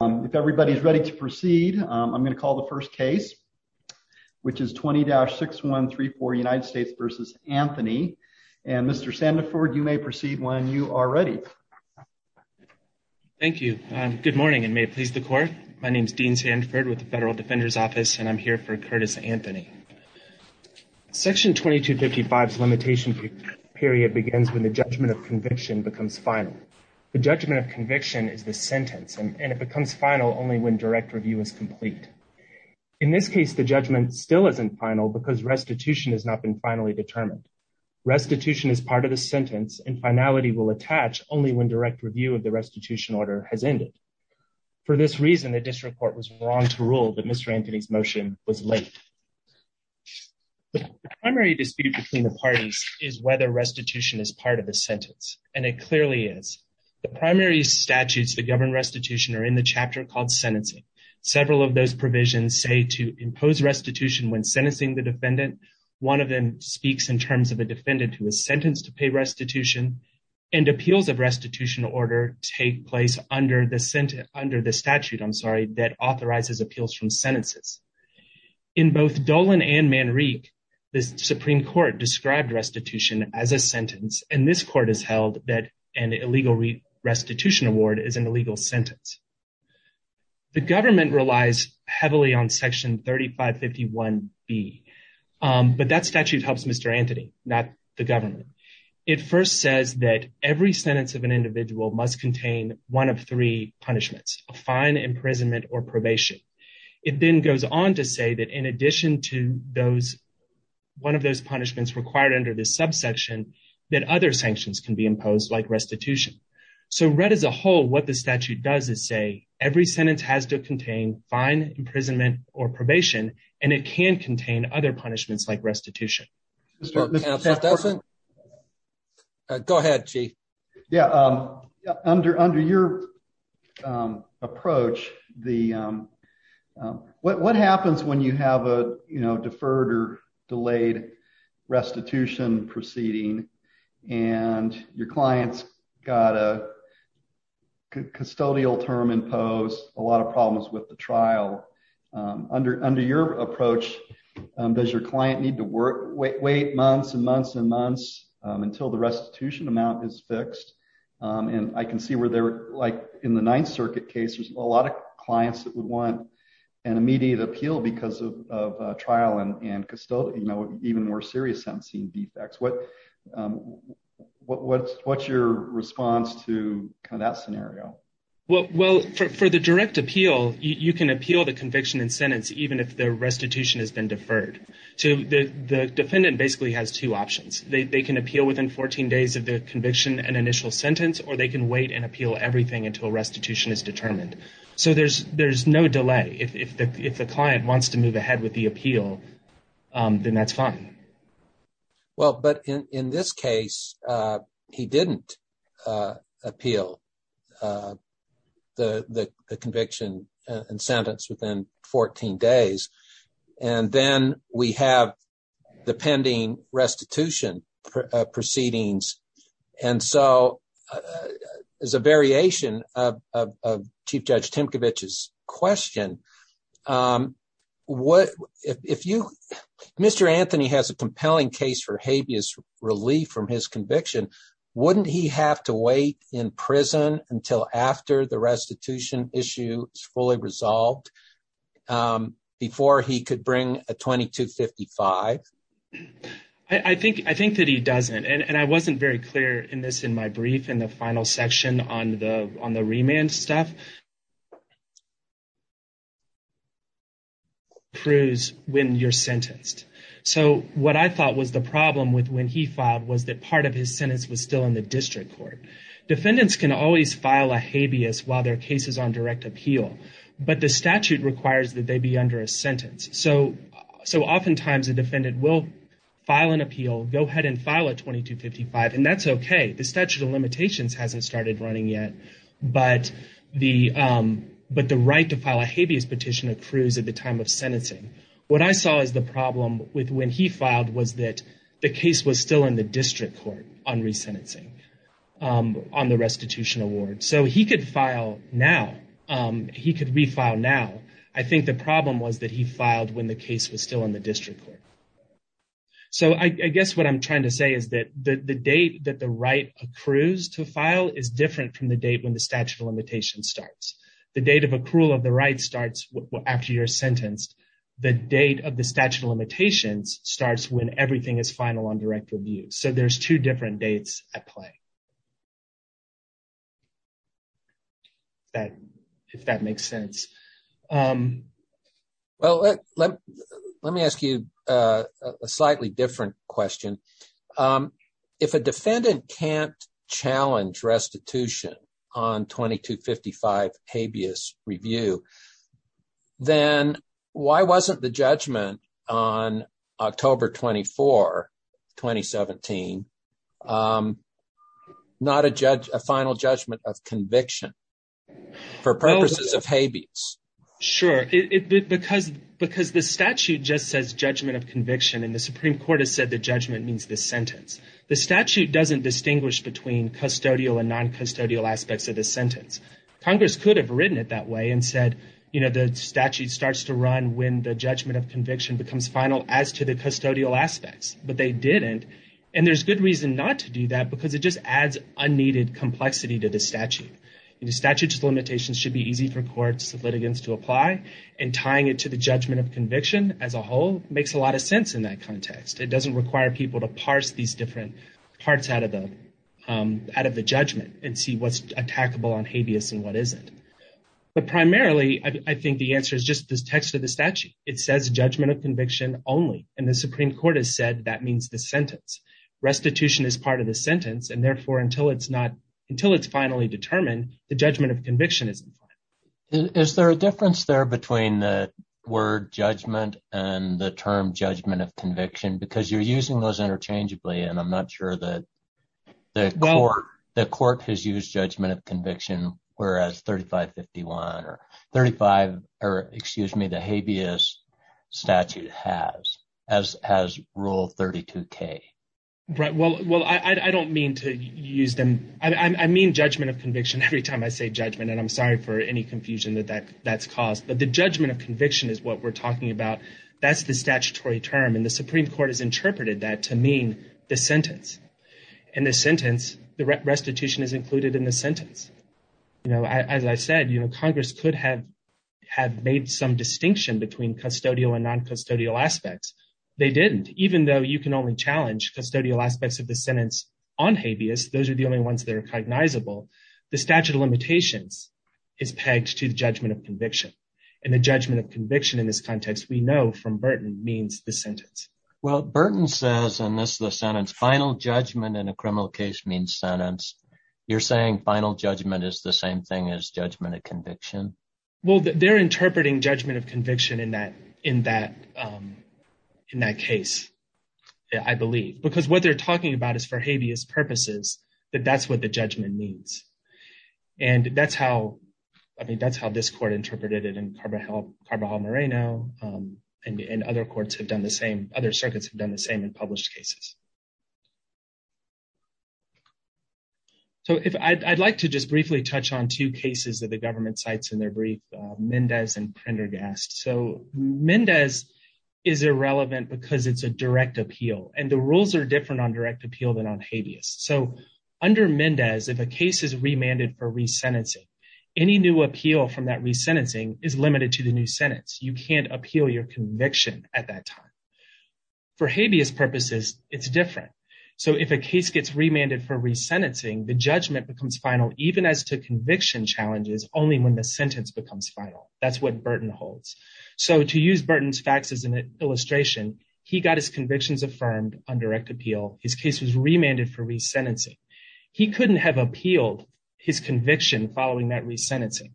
If everybody's ready to proceed, I'm going to call the first case, which is 20-6134 United States v. Anthony. And Mr. Sandiford, you may proceed when you are ready. Thank you. Good morning, and may it please the court. My name is Dean Sandiford with the Federal Defender's Office, and I'm here for Curtis Anthony. Section 2255's limitation period begins when the judgment of conviction becomes final. The judgment of conviction is the sentence, and it becomes final only when direct review is complete. In this case, the judgment still isn't final because restitution has not been finally determined. Restitution is part of the sentence, and finality will attach only when direct review of the restitution order has ended. For this reason, the district court was wrong to rule that Mr. Anthony's motion was late. The primary dispute between the parties is whether restitution is part of the sentence, and it clearly is. The primary statutes that govern restitution are in the chapter called sentencing. Several of those provisions say to impose restitution when sentencing the defendant. One of them speaks in terms of a defendant who is sentenced to pay restitution, and appeals of restitution order take place under the statute that authorizes appeals from sentences. In both Dolan and Manrique, the Supreme Court described restitution as a sentence, and this court has held that an illegal restitution award is an illegal sentence. The government relies heavily on Section 3551B, but that statute helps Mr. Anthony, not the government. It first says that every sentence of an individual must contain one of three punishments, a fine, imprisonment, or probation. It then goes on to say that in addition to one of those punishments required under this subsection, that other sanctions can be imposed, like restitution. So read as a whole, what the statute does is say every sentence has to contain fine, imprisonment, or probation, and it can contain other punishments like restitution. Mr. Tafferson? Go ahead, Chief. Yeah, under your approach, what happens when you have a deferred or delayed restitution proceeding, and your client's got a custodial term imposed, a lot of problems with the trial, under your approach, does your client need to wait months and months and months until the restitution amount is fixed? And I can see where they're, like in the Ninth Circuit case, there's a lot of clients that would want an immediate appeal because of trial and custodial, you know, even more serious sentencing defects. What's your response to that scenario? Well, for the direct appeal, you can appeal the conviction and sentence even if the restitution has been deferred. So the defendant basically has two options. They can appeal within 14 days of the conviction and initial sentence, or they can wait and appeal everything until restitution is determined. So there's no delay. If the client wants to move ahead with the appeal, then that's fine. Well, but in this case, he didn't appeal the conviction and sentence within 14 days. And then we have the pending restitution proceedings. And so, as a variation of Chief Judge Timkovich's question, Mr. Anthony has a compelling case for habeas relief from his conviction. Wouldn't he have to wait in prison until after the restitution issue is fully resolved before he could bring a 2255? I think that he doesn't. And I wasn't very clear in this in my brief in the final section on the remand stuff. When you're sentenced. So what I thought was the problem with when he filed was that part of his sentence was still in the district court. Defendants can always file a habeas while their case is on direct appeal, but the statute requires that they be under a sentence. So oftentimes, a defendant will file an appeal, go ahead and file a 2255, and that's okay. The statute of limitations hasn't started running yet, but the right to file a habeas petition accrues at the time of sentencing. What I saw as the problem with when he filed was that the case was still in the district court on resentencing, on the restitution award. So he could file now. He could refile now. I think the problem was that he filed when the case was still in the district court. So I guess what I'm trying to say is that the date that the right accrues to file is different from the date when the statute of limitations starts. The date of accrual of the right starts after you're sentenced. The date of the statute of limitations starts when everything is final on direct review. So there's two different dates at play. If that makes sense. Well, let me ask you a slightly different question. If a defendant can't challenge restitution on 2255 habeas review, then why wasn't the judgment on October 24, 2017, not a final judgment of conviction for purposes of habeas? Sure. Because the statute just says judgment of conviction, and the Supreme Court has said the judgment means the sentence. The statute doesn't distinguish between custodial and non-custodial aspects of the sentence. Congress could have written it that way and said, you know, the statute starts to run when the judgment of conviction becomes final as to the custodial aspects, but they didn't. And there's good reason not to do that because it just adds unneeded complexity to the statute. And the statute of limitations should be easy for courts of litigants to apply, and tying it to the judgment of conviction as a whole makes a lot of sense in that context. It doesn't require people to parse these different parts out of the judgment and see what's attackable on habeas and what isn't. But primarily, I think the answer is just the text of the statute. It says judgment of conviction only, and the Supreme Court has said that means the sentence. Restitution is part of the sentence, and therefore until it's finally determined, the judgment of conviction isn't final. Is there a difference there between the word judgment and the term judgment of conviction? Because you're using those interchangeably, and I'm not sure that the court has used judgment of conviction, whereas 3551 or 35, or excuse me, the habeas statute has, as has Rule 32K. Right. Well, I don't mean to use them. I mean judgment of conviction every time I say judgment, and I'm sorry for any confusion that that's caused. But the judgment of conviction is what we're talking about. That's the statutory term, and the Supreme Court has interpreted that to mean the sentence. In the sentence, the restitution is included in the sentence. As I said, Congress could have made some distinction between custodial and non-custodial aspects. They didn't, even though you can only challenge custodial aspects of the sentence on habeas. Those are the only ones that are cognizable. The statute of limitations is pegged to the judgment of conviction, and the judgment of conviction in this context, we know from Burton, means the sentence. Well, Burton says, and this is the sentence, final judgment in a criminal case means sentence. You're saying final judgment is the same thing as judgment of conviction? Well, they're interpreting judgment of conviction in that case, I believe, because what they're talking about is for habeas purposes, that that's what the judgment means. And that's how, this court interpreted it in Carvajal Moreno, and other courts have done the same, other circuits have done the same in published cases. So I'd like to just briefly touch on two cases that the government cites in their brief, Mendez and Prendergast. So Mendez is irrelevant because it's a direct appeal, and the rules are different on direct appeal than on habeas. So under Mendez, if a case is remanded for resentencing, any new appeal from that resentencing is limited to the new sentence. You can't appeal your conviction at that time. For habeas purposes, it's different. So if a case gets remanded for resentencing, the judgment becomes final, even as to conviction challenges, only when the sentence becomes final. That's what Burton holds. So to use Burton's facts as an illustration, he got his convictions affirmed on direct appeal. His case was remanded for resentencing. He couldn't have appealed his conviction following that resentencing.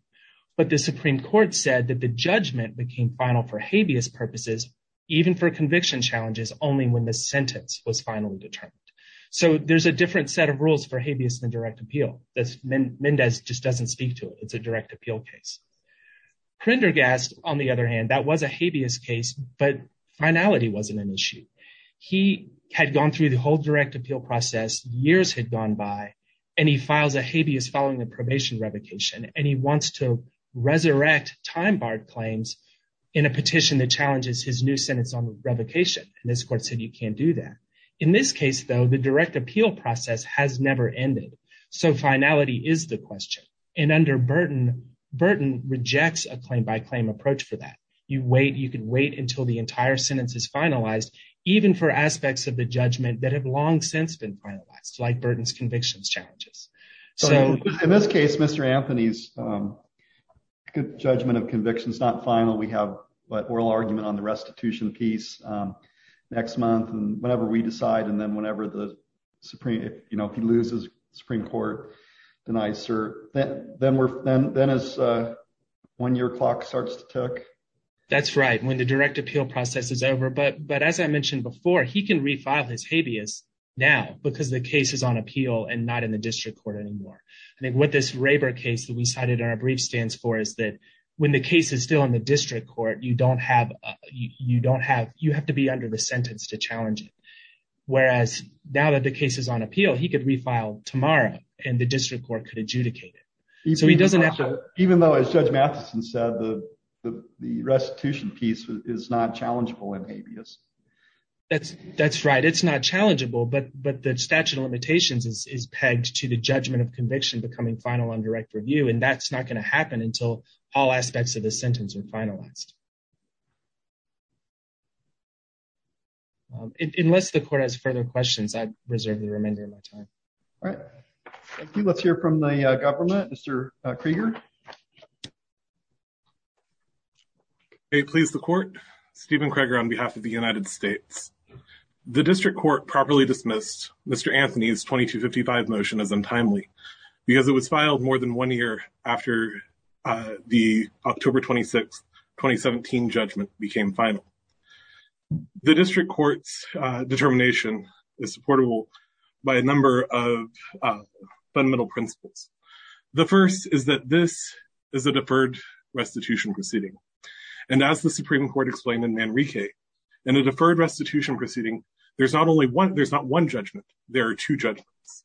But the Supreme Court said that the judgment became final for habeas purposes, even for conviction challenges, only when the sentence was finally determined. So there's a different set of rules for habeas than direct appeal. Mendez just doesn't speak to it. It's a direct appeal case. Prendergast, on the other hand, that was a habeas case, but finality wasn't an issue. He had gone through the whole direct appeal process, years had gone by, and he files a habeas following the probation revocation. And he wants to resurrect time-barred claims in a petition that challenges his new sentence on revocation. And this court said you can't do that. In this case, though, the direct appeal process has never ended. So finality is the question. And under Burton, Burton rejects a claim-by-claim approach for that. You wait, you can wait until the entire sentence is finalized, even for aspects of the judgment that have long since been finalized, like Burton's convictions challenges. So in this case, Mr. Anthony's judgment of conviction is not final. We have an oral argument on the restitution piece next month, and whenever we decide, and then whenever the Supreme, you know, if he loses, the Supreme Court denies. Then as one year clock starts to tick. That's right, when the direct appeal process is over. But as I mentioned before, he can refile his habeas now because the case is on appeal and not in the district court anymore. I think what this Raber case that we cited in our brief stands for is that when the case is still in the district court, you don't have, you don't have, you have to be under the sentence to challenge it. Whereas now that the case is on appeal, he could refile tomorrow and the district court could adjudicate it. So he doesn't have to, even though as Judge Matheson said, the restitution piece is not challengeable in habeas. That's right, it's not challengeable, but the statute of limitations is pegged to the judgment of conviction becoming final on direct review, and that's not going to happen until all aspects of the sentence are finalized. Unless the court has further questions, I reserve the remainder of my time. All right, thank you. Let's hear from the government. Mr. on behalf of the United States. The district court properly dismissed Mr. Anthony's 2255 motion as untimely because it was filed more than one year after the October 26, 2017 judgment became final. The district court's determination is supportable by a number of fundamental principles. The first is that this is a deferred restitution proceeding, and as the and a deferred restitution proceeding, there's not only one, there's not one judgment, there are two judgments.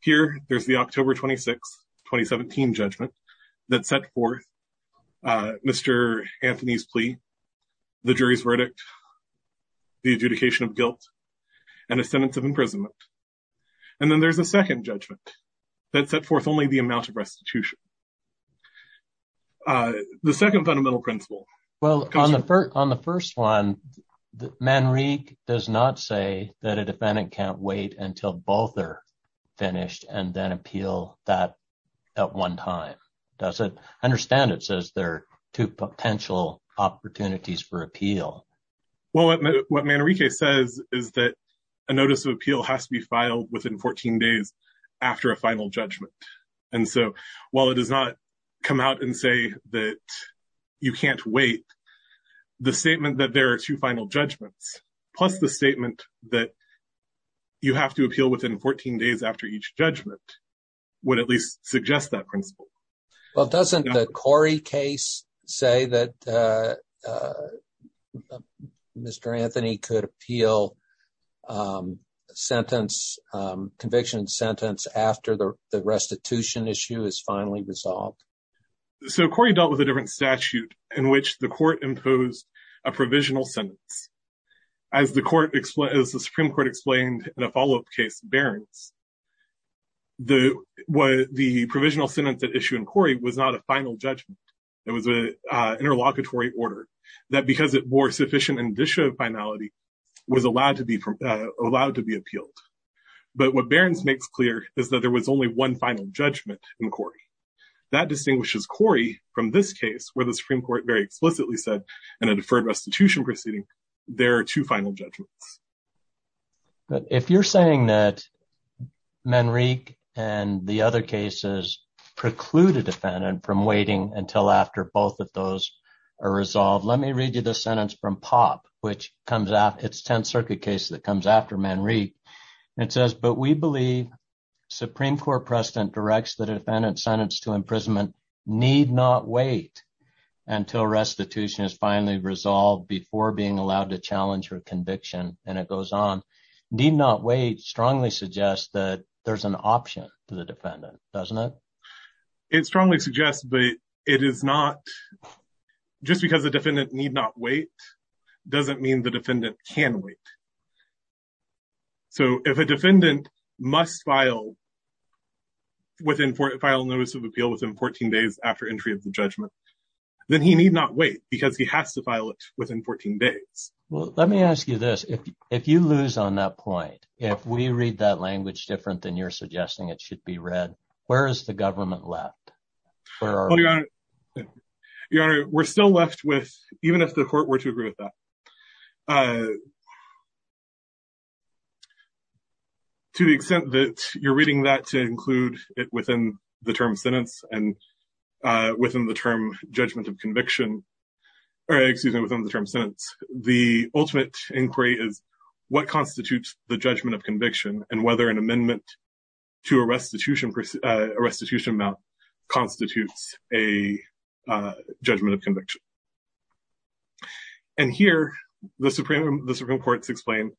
Here, there's the October 26, 2017 judgment that set forth Mr. Anthony's plea, the jury's verdict, the adjudication of guilt, and a sentence of imprisonment. And then there's a second judgment that set forth only the amount of restitution. The second fundamental principle. Well, on the first one, Manrique does not say that a defendant can't wait until both are finished and then appeal that at one time, does it? I understand it says there are two potential opportunities for appeal. Well, what Manrique says is that a notice of come out and say that you can't wait. The statement that there are two final judgments, plus the statement that you have to appeal within 14 days after each judgment would at least suggest that principle. Well, doesn't the Corey case say that Mr. Anthony could appeal a conviction sentence after the restitution issue is finally resolved? So Corey dealt with a different statute in which the court imposed a provisional sentence. As the Supreme Court explained in a follow-up case, Barron's, the provisional sentence at issue in Corey was not a final judgment. It was an interlocutory order. Because it bore sufficient indicia of finality was allowed to be allowed to be appealed. But what Barron's makes clear is that there was only one final judgment in Corey. That distinguishes Corey from this case where the Supreme Court very explicitly said in a deferred restitution proceeding, there are two final judgments. But if you're saying that Manrique and the other cases preclude a defendant from waiting until both of those are resolved, let me read you the sentence from POP. It's 10th Circuit case that comes after Manrique. It says, but we believe Supreme Court precedent directs the defendant sentenced to imprisonment need not wait until restitution is finally resolved before being allowed to challenge her conviction. And it goes on. Need not wait strongly suggests that there's option to the defendant, doesn't it? It strongly suggests, but it is not just because the defendant need not wait doesn't mean the defendant can wait. So if a defendant must file notice of appeal within 14 days after entry of the judgment, then he need not wait because he has to file it within 14 days. Well, let me ask you this. If you lose on that point, if we read that language different than you're suggesting it should be read, where is the government left? Your Honor, we're still left with even if the court were to agree with that. To the extent that you're reading that to include it within the term sentence and within the term judgment of conviction, or excuse me, within the term sentence, the ultimate inquiry is what constitutes the judgment of conviction and whether an amendment to a restitution amount constitutes a judgment of conviction. And here, the Supreme Court has explained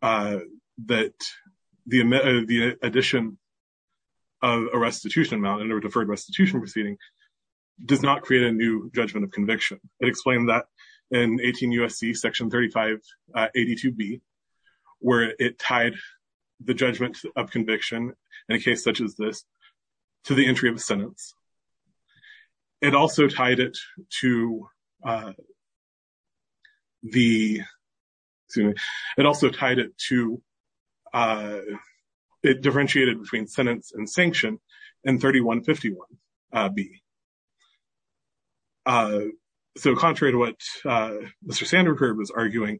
that the addition of a restitution amount in a deferred restitution proceeding does not create a new judgment of conviction. It explained that in 18 U.S.C. section 3582B, where it tied the judgment of conviction in a case such as this to the entry of a sentence. It also tied it to the, it also tied it to, it differentiated between sentence and sanction in 3151B. So, contrary to what Mr. Sanford was arguing,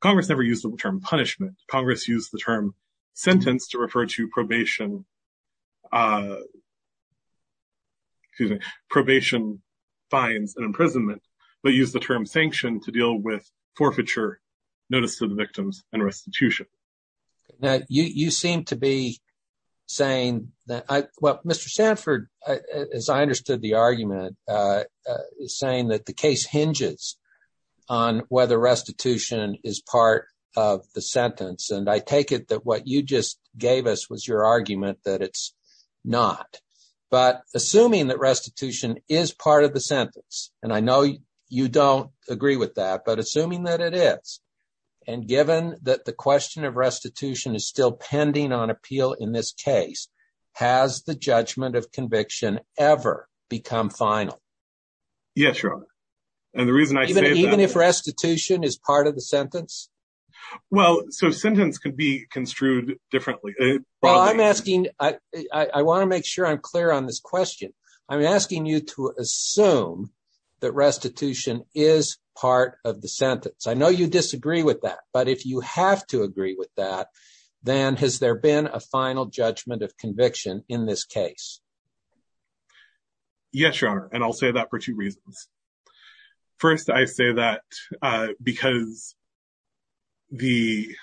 Congress never used the term punishment. Congress used the term sentence to refer to probation, excuse me, probation, fines, and imprisonment, but used the term sanction to deal with forfeiture, notice to the victims, and restitution. Now, you seem to be saying that, well, Mr. Sanford, as I understood the argument, saying that the case hinges on whether restitution is part of the sentence. And I take it that what you just gave us was your argument that it's not. But assuming that restitution is part of the sentence, and I know you don't agree with that, but assuming that it is, and given that the question of restitution is still pending on ever become final. Yes, Your Honor. And the reason I say that... Even if restitution is part of the sentence? Well, so sentence could be construed differently. Well, I'm asking, I want to make sure I'm clear on this question. I'm asking you to assume that restitution is part of the sentence. I know you disagree with that, but if you have to agree with that, then has there been a final judgment of conviction in this case? Yes, Your Honor. And I'll say that for two reasons. First, I say that because the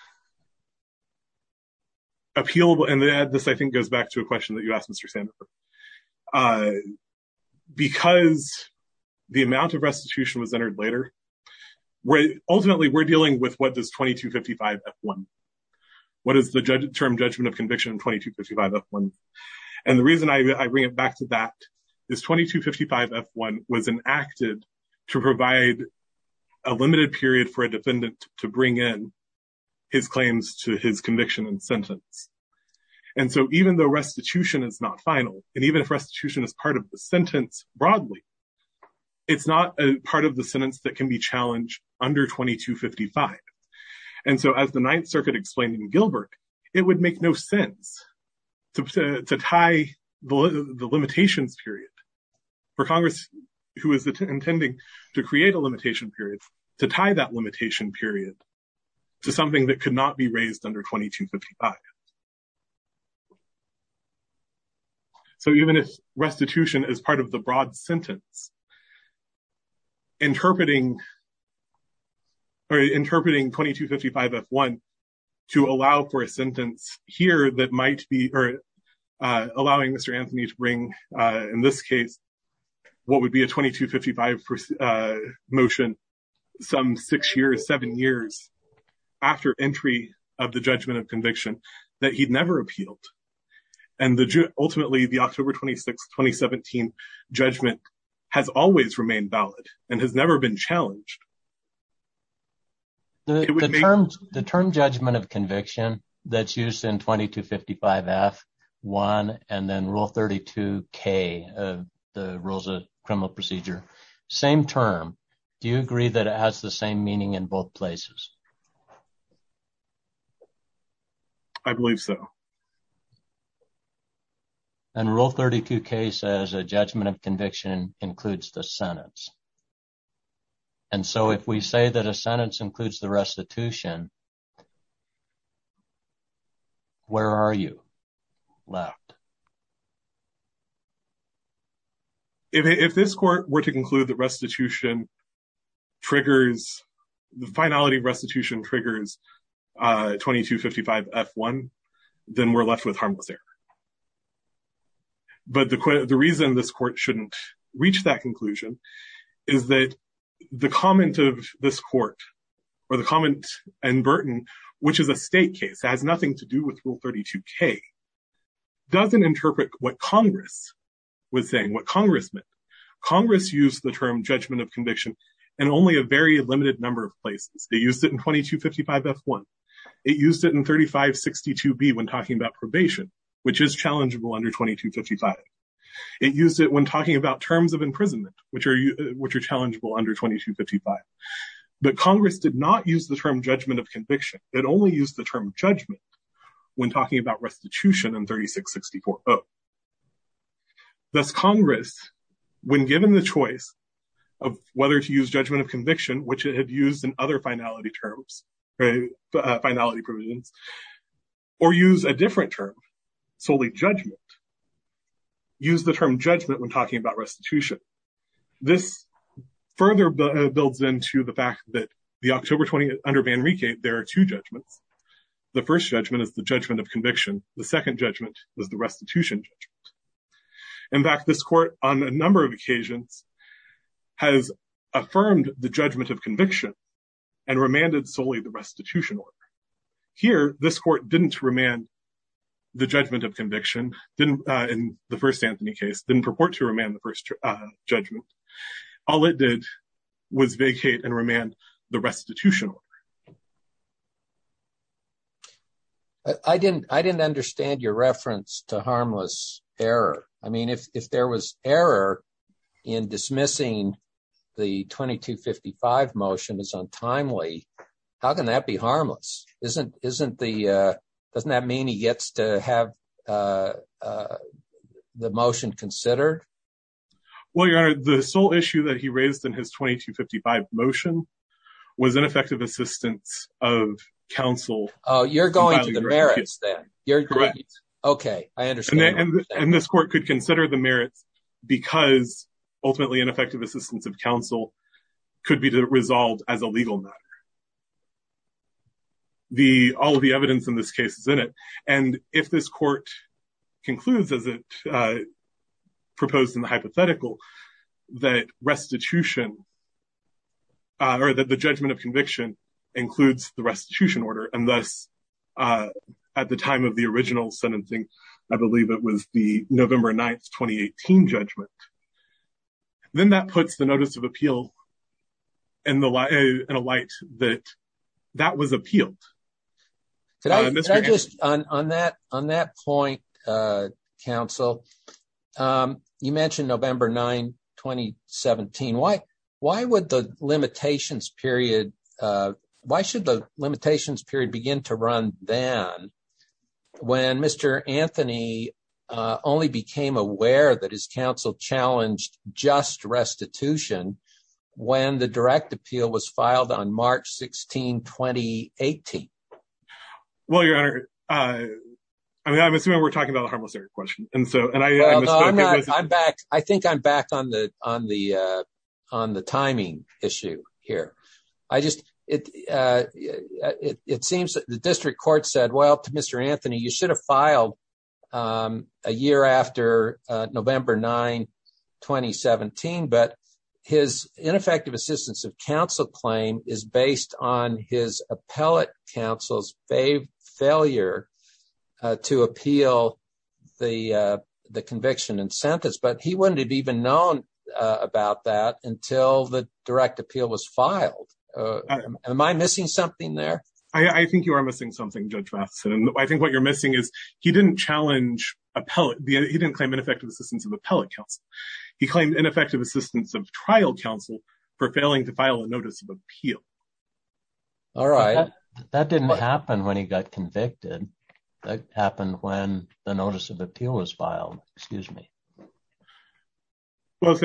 appeal... And this, I think, goes back to a question that you asked Mr. Sanford. Because the amount of restitution was entered later, ultimately, we're dealing with what is the term judgment of conviction in 2255 F1. And the reason I bring it back to that is 2255 F1 was enacted to provide a limited period for a defendant to bring in his claims to his conviction and sentence. And so even though restitution is not final, and even if restitution is part of the sentence broadly, it's not a part of the sentence that can be challenged under 2255. And so as the it would make no sense to tie the limitations period for Congress, who is intending to create a limitation period, to tie that limitation period to something that could not be raised under 2255. So even if restitution is part of the broad sentence, interpreting 2255 F1 to allow for a sentence here that might be... Or allowing Mr. Anthony to bring, in this case, what would be a 2255 motion some six years, seven years after entry of the judgment of conviction that he'd never appealed. And ultimately, the October 26th, 2017 judgment has always remained valid and has never been challenged. The term judgment of conviction that's used in 2255 F1 and then Rule 32K of the Rules of Criminal Procedure, same term. Do you agree that it has the same meaning in both places? I believe so. And Rule 32K says a judgment of conviction includes the sentence. And so if we say that a sentence includes the restitution, where are you? Left. If this court were to conclude that restitution triggers the finality restitution, triggers 2255 F1, then we're left with harmless error. But the reason this court shouldn't reach that conclusion is that the comment of this court, or the comment in Burton, which is a state case, has nothing to do with Rule 32K, doesn't interpret what Congress was saying, what Congress meant. Congress used the term judgment of conviction in only a very limited number of places. They used it in 2255 F1. It used it in 3562 B when talking about probation, which is challengeable under 2255. It used it when talking about terms of imprisonment, which are challengeable under 2255. But Congress did not use the term judgment of conviction. It only used the term judgment when talking about restitution in 3664 O. Thus Congress, when given the choice of whether to use judgment of conviction, which it had used in other finality provisions, or use a different term, solely judgment, used the term judgment when talking about restitution. This further builds into the fact that the October 20th, under Van Rieke, there are two judgments. The first judgment is the judgment of conviction. The second judgment is the restitution judgment. In fact, this court, on a number of occasions, has affirmed the judgment of conviction and remanded solely the restitution order. Here, this court didn't remand the judgment of conviction in the first Anthony case, didn't purport to remand the first judgment. All it did was vacate and remand the restitution order. I didn't understand your reference to harmless error. I mean, if there was error in dismissing the 2255 motion as untimely, how can that be harmless? Doesn't that mean he gets to have the motion considered? Well, your honor, the sole issue that he raised in his 2255 motion was ineffective assistance of counsel. Oh, you're going to the merits then? Correct. Okay, I understand. And this court could consider the merits because ultimately ineffective assistance of counsel could be resolved as a legal matter. All of the evidence in this case is in it. And if this court concludes, as it hypothetical, that restitution or that the judgment of conviction includes the restitution order, and thus at the time of the original sentencing, I believe it was the November 9th, 2018 judgment, then that puts the notice of appeal in a light that that was appealed. Could I just, on that point, counsel, you mentioned November 9, 2017. Why should the limitations period begin to run then when Mr. Anthony only became aware that his counsel challenged just restitution when the direct appeal was filed on March 16, 2018? Well, your honor, I mean, I'm assuming we're talking about a harmless question. And so I'm back. I think I'm back on the on the on the timing issue here. I just it. It seems that the district court said, well, to Mr. Anthony, you should have filed a year after November 9, 2017. But his ineffective assistance of counsel claim is based on his appellate counsel's failure to appeal the conviction and sentence. But he wouldn't have even known about that until the direct appeal was filed. Am I missing something there? I think you are missing something, Judge Matheson. I think what you're missing is he didn't challenge appellate. He didn't claim ineffective assistance of appellate counsel. He claimed ineffective assistance of trial counsel for failing to file a notice of appeal. All right. That didn't happen when he got convicted. That happened when the notice of appeal was filed. Excuse me. Well,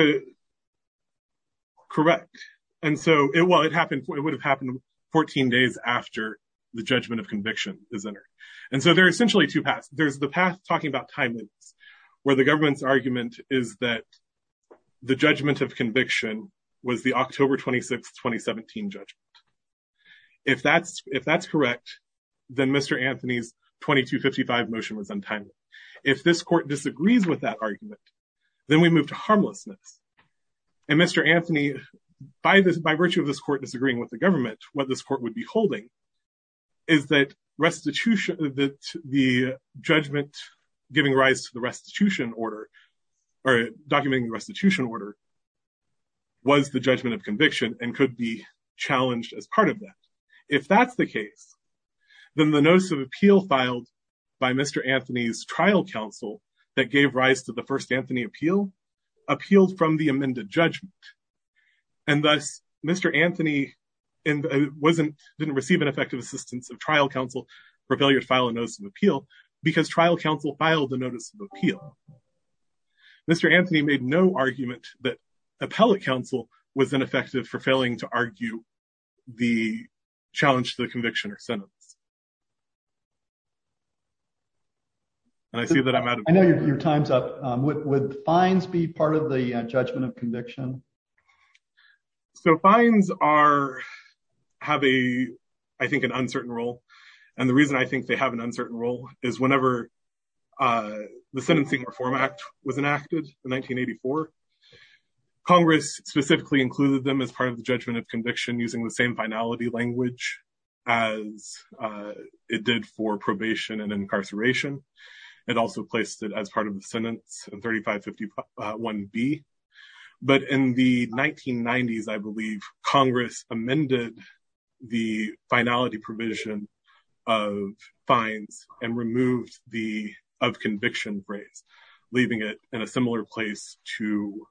correct. And so it happened. It would have happened 14 days after the judgment of conviction is entered. And so there are essentially two paths. There's the path talking about time limits where the government's argument is that the judgment of conviction was the October 26, 2017 judgment. If that's if that's correct, then Mr. Anthony's motion was untimely. If this court disagrees with that argument, then we move to harmlessness. And Mr. Anthony, by virtue of this court disagreeing with the government, what this court would be holding is that restitution that the judgment giving rise to the restitution order or documenting the restitution order was the judgment of conviction and could be by Mr. Anthony's trial counsel that gave rise to the first Anthony appeal appealed from the amended judgment. And thus, Mr. Anthony wasn't didn't receive an effective assistance of trial counsel for failure to file a notice of appeal because trial counsel filed the notice of appeal. Mr. Anthony made no argument that appellate counsel was ineffective for failing to argue the challenge to the conviction or sentence. And I see that I'm out of your time's up with fines be part of the judgment of conviction. So fines are have a, I think, an uncertain role. And the reason I think they have an uncertain role is whenever the Sentencing Reform Act was enacted in 1984, Congress specifically included them as part of the judgment of conviction using the same finality language as it did for probation and incarceration. It also placed it as part of the sentence in 3551B. But in the 1990s, I believe Congress amended the finality provision of fines and removed of conviction phrase, leaving it in a similar place to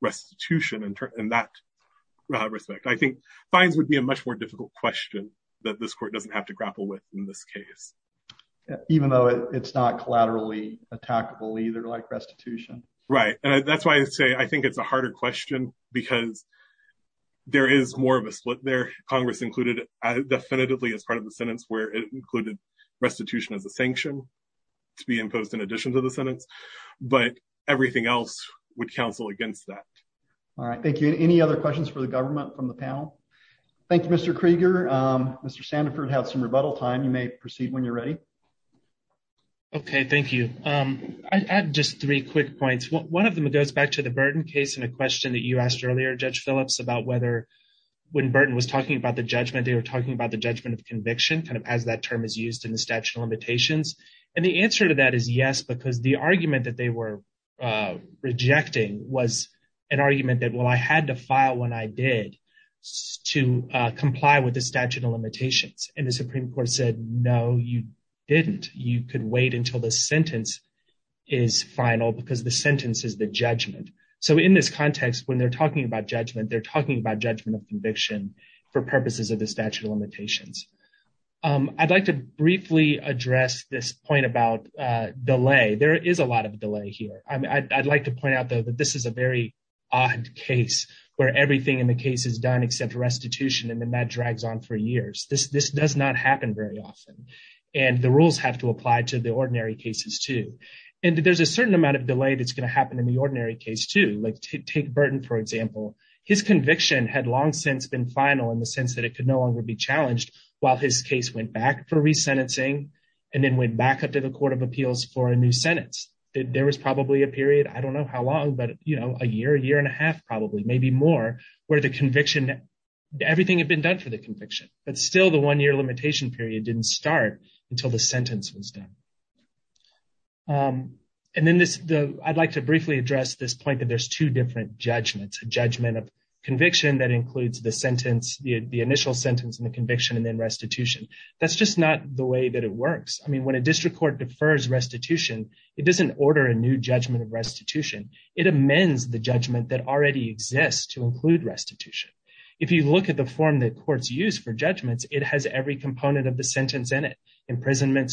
restitution in that respect. I think fines would be a much more difficult question that this court doesn't have to grapple with in this case. Even though it's not collaterally attackable either like restitution. Right. And that's why I say I think it's a harder question because there is more of a split there. Congress definitively as part of the sentence where it included restitution as a sanction to be imposed in addition to the sentence. But everything else would counsel against that. All right. Thank you. Any other questions for the government from the panel? Thank you, Mr. Krieger. Mr. Sandiford has some rebuttal time. You may proceed when you're ready. Okay, thank you. I have just three quick points. One of them goes back to the Burton case and a question that you asked earlier, Judge they were talking about the judgment of conviction kind of as that term is used in the statute of limitations. And the answer to that is yes, because the argument that they were rejecting was an argument that, well, I had to file when I did to comply with the statute of limitations. And the Supreme Court said, no, you didn't. You could wait until the sentence is final because the sentence is the judgment. So in this context, when they're talking about statute of limitations, I'd like to briefly address this point about delay. There is a lot of delay here. I'd like to point out though, that this is a very odd case where everything in the case is done except restitution. And then that drags on for years. This does not happen very often. And the rules have to apply to the ordinary cases too. And there's a certain amount of delay that's going to happen in the ordinary case too. Like take Burton, for example, his conviction had long since been final in the sense that it could no longer be challenged while his case went back for resentencing and then went back up to the Court of Appeals for a new sentence. There was probably a period, I don't know how long, but a year, year and a half probably, maybe more, where the conviction, everything had been done for the conviction, but still the one-year limitation period didn't start until the sentence was done. And then I'd like to briefly address this point that there's two different judgments. A judgment of conviction that includes the sentence, the initial sentence and the conviction and then restitution. That's just not the way that it works. I mean, when a district court defers restitution, it doesn't order a new judgment of restitution. It amends the judgment that already exists to include restitution. If you look at the form that courts use for judgments, it has every component of the sentence in it. Imprisonment,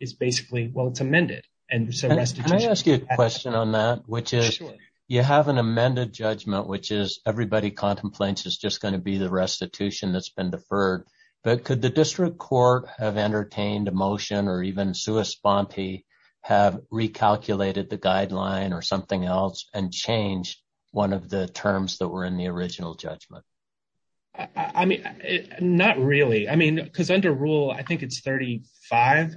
is basically, well, it's amended. And so restitution... Can I ask you a question on that, which is you have an amended judgment, which is everybody contemplates is just going to be the restitution that's been deferred. But could the district court have entertained a motion or even sui sponte have recalculated the guideline or something else and changed one of the terms that were in the original judgment? I mean, not really. I mean, because under rule, I think it's 35.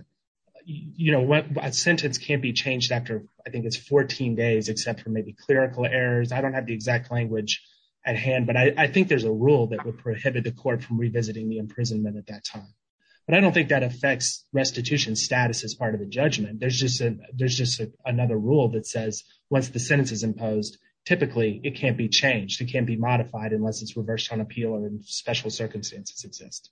A sentence can't be changed after, I think it's 14 days, except for maybe clerical errors. I don't have the exact language at hand, but I think there's a rule that would prohibit the court from revisiting the imprisonment at that time. But I don't think that affects restitution status as part of the judgment. There's just another rule that says once the sentence is imposed, typically it can't be changed. It can't be modified unless it's reversed on appeal or in special circumstances exist.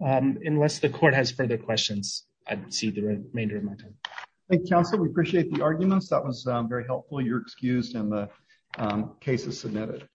Unless the court has further questions, I'd see the remainder of my time. Thank you, counsel. We appreciate the arguments. That was very helpful. You're excused and the case is submitted.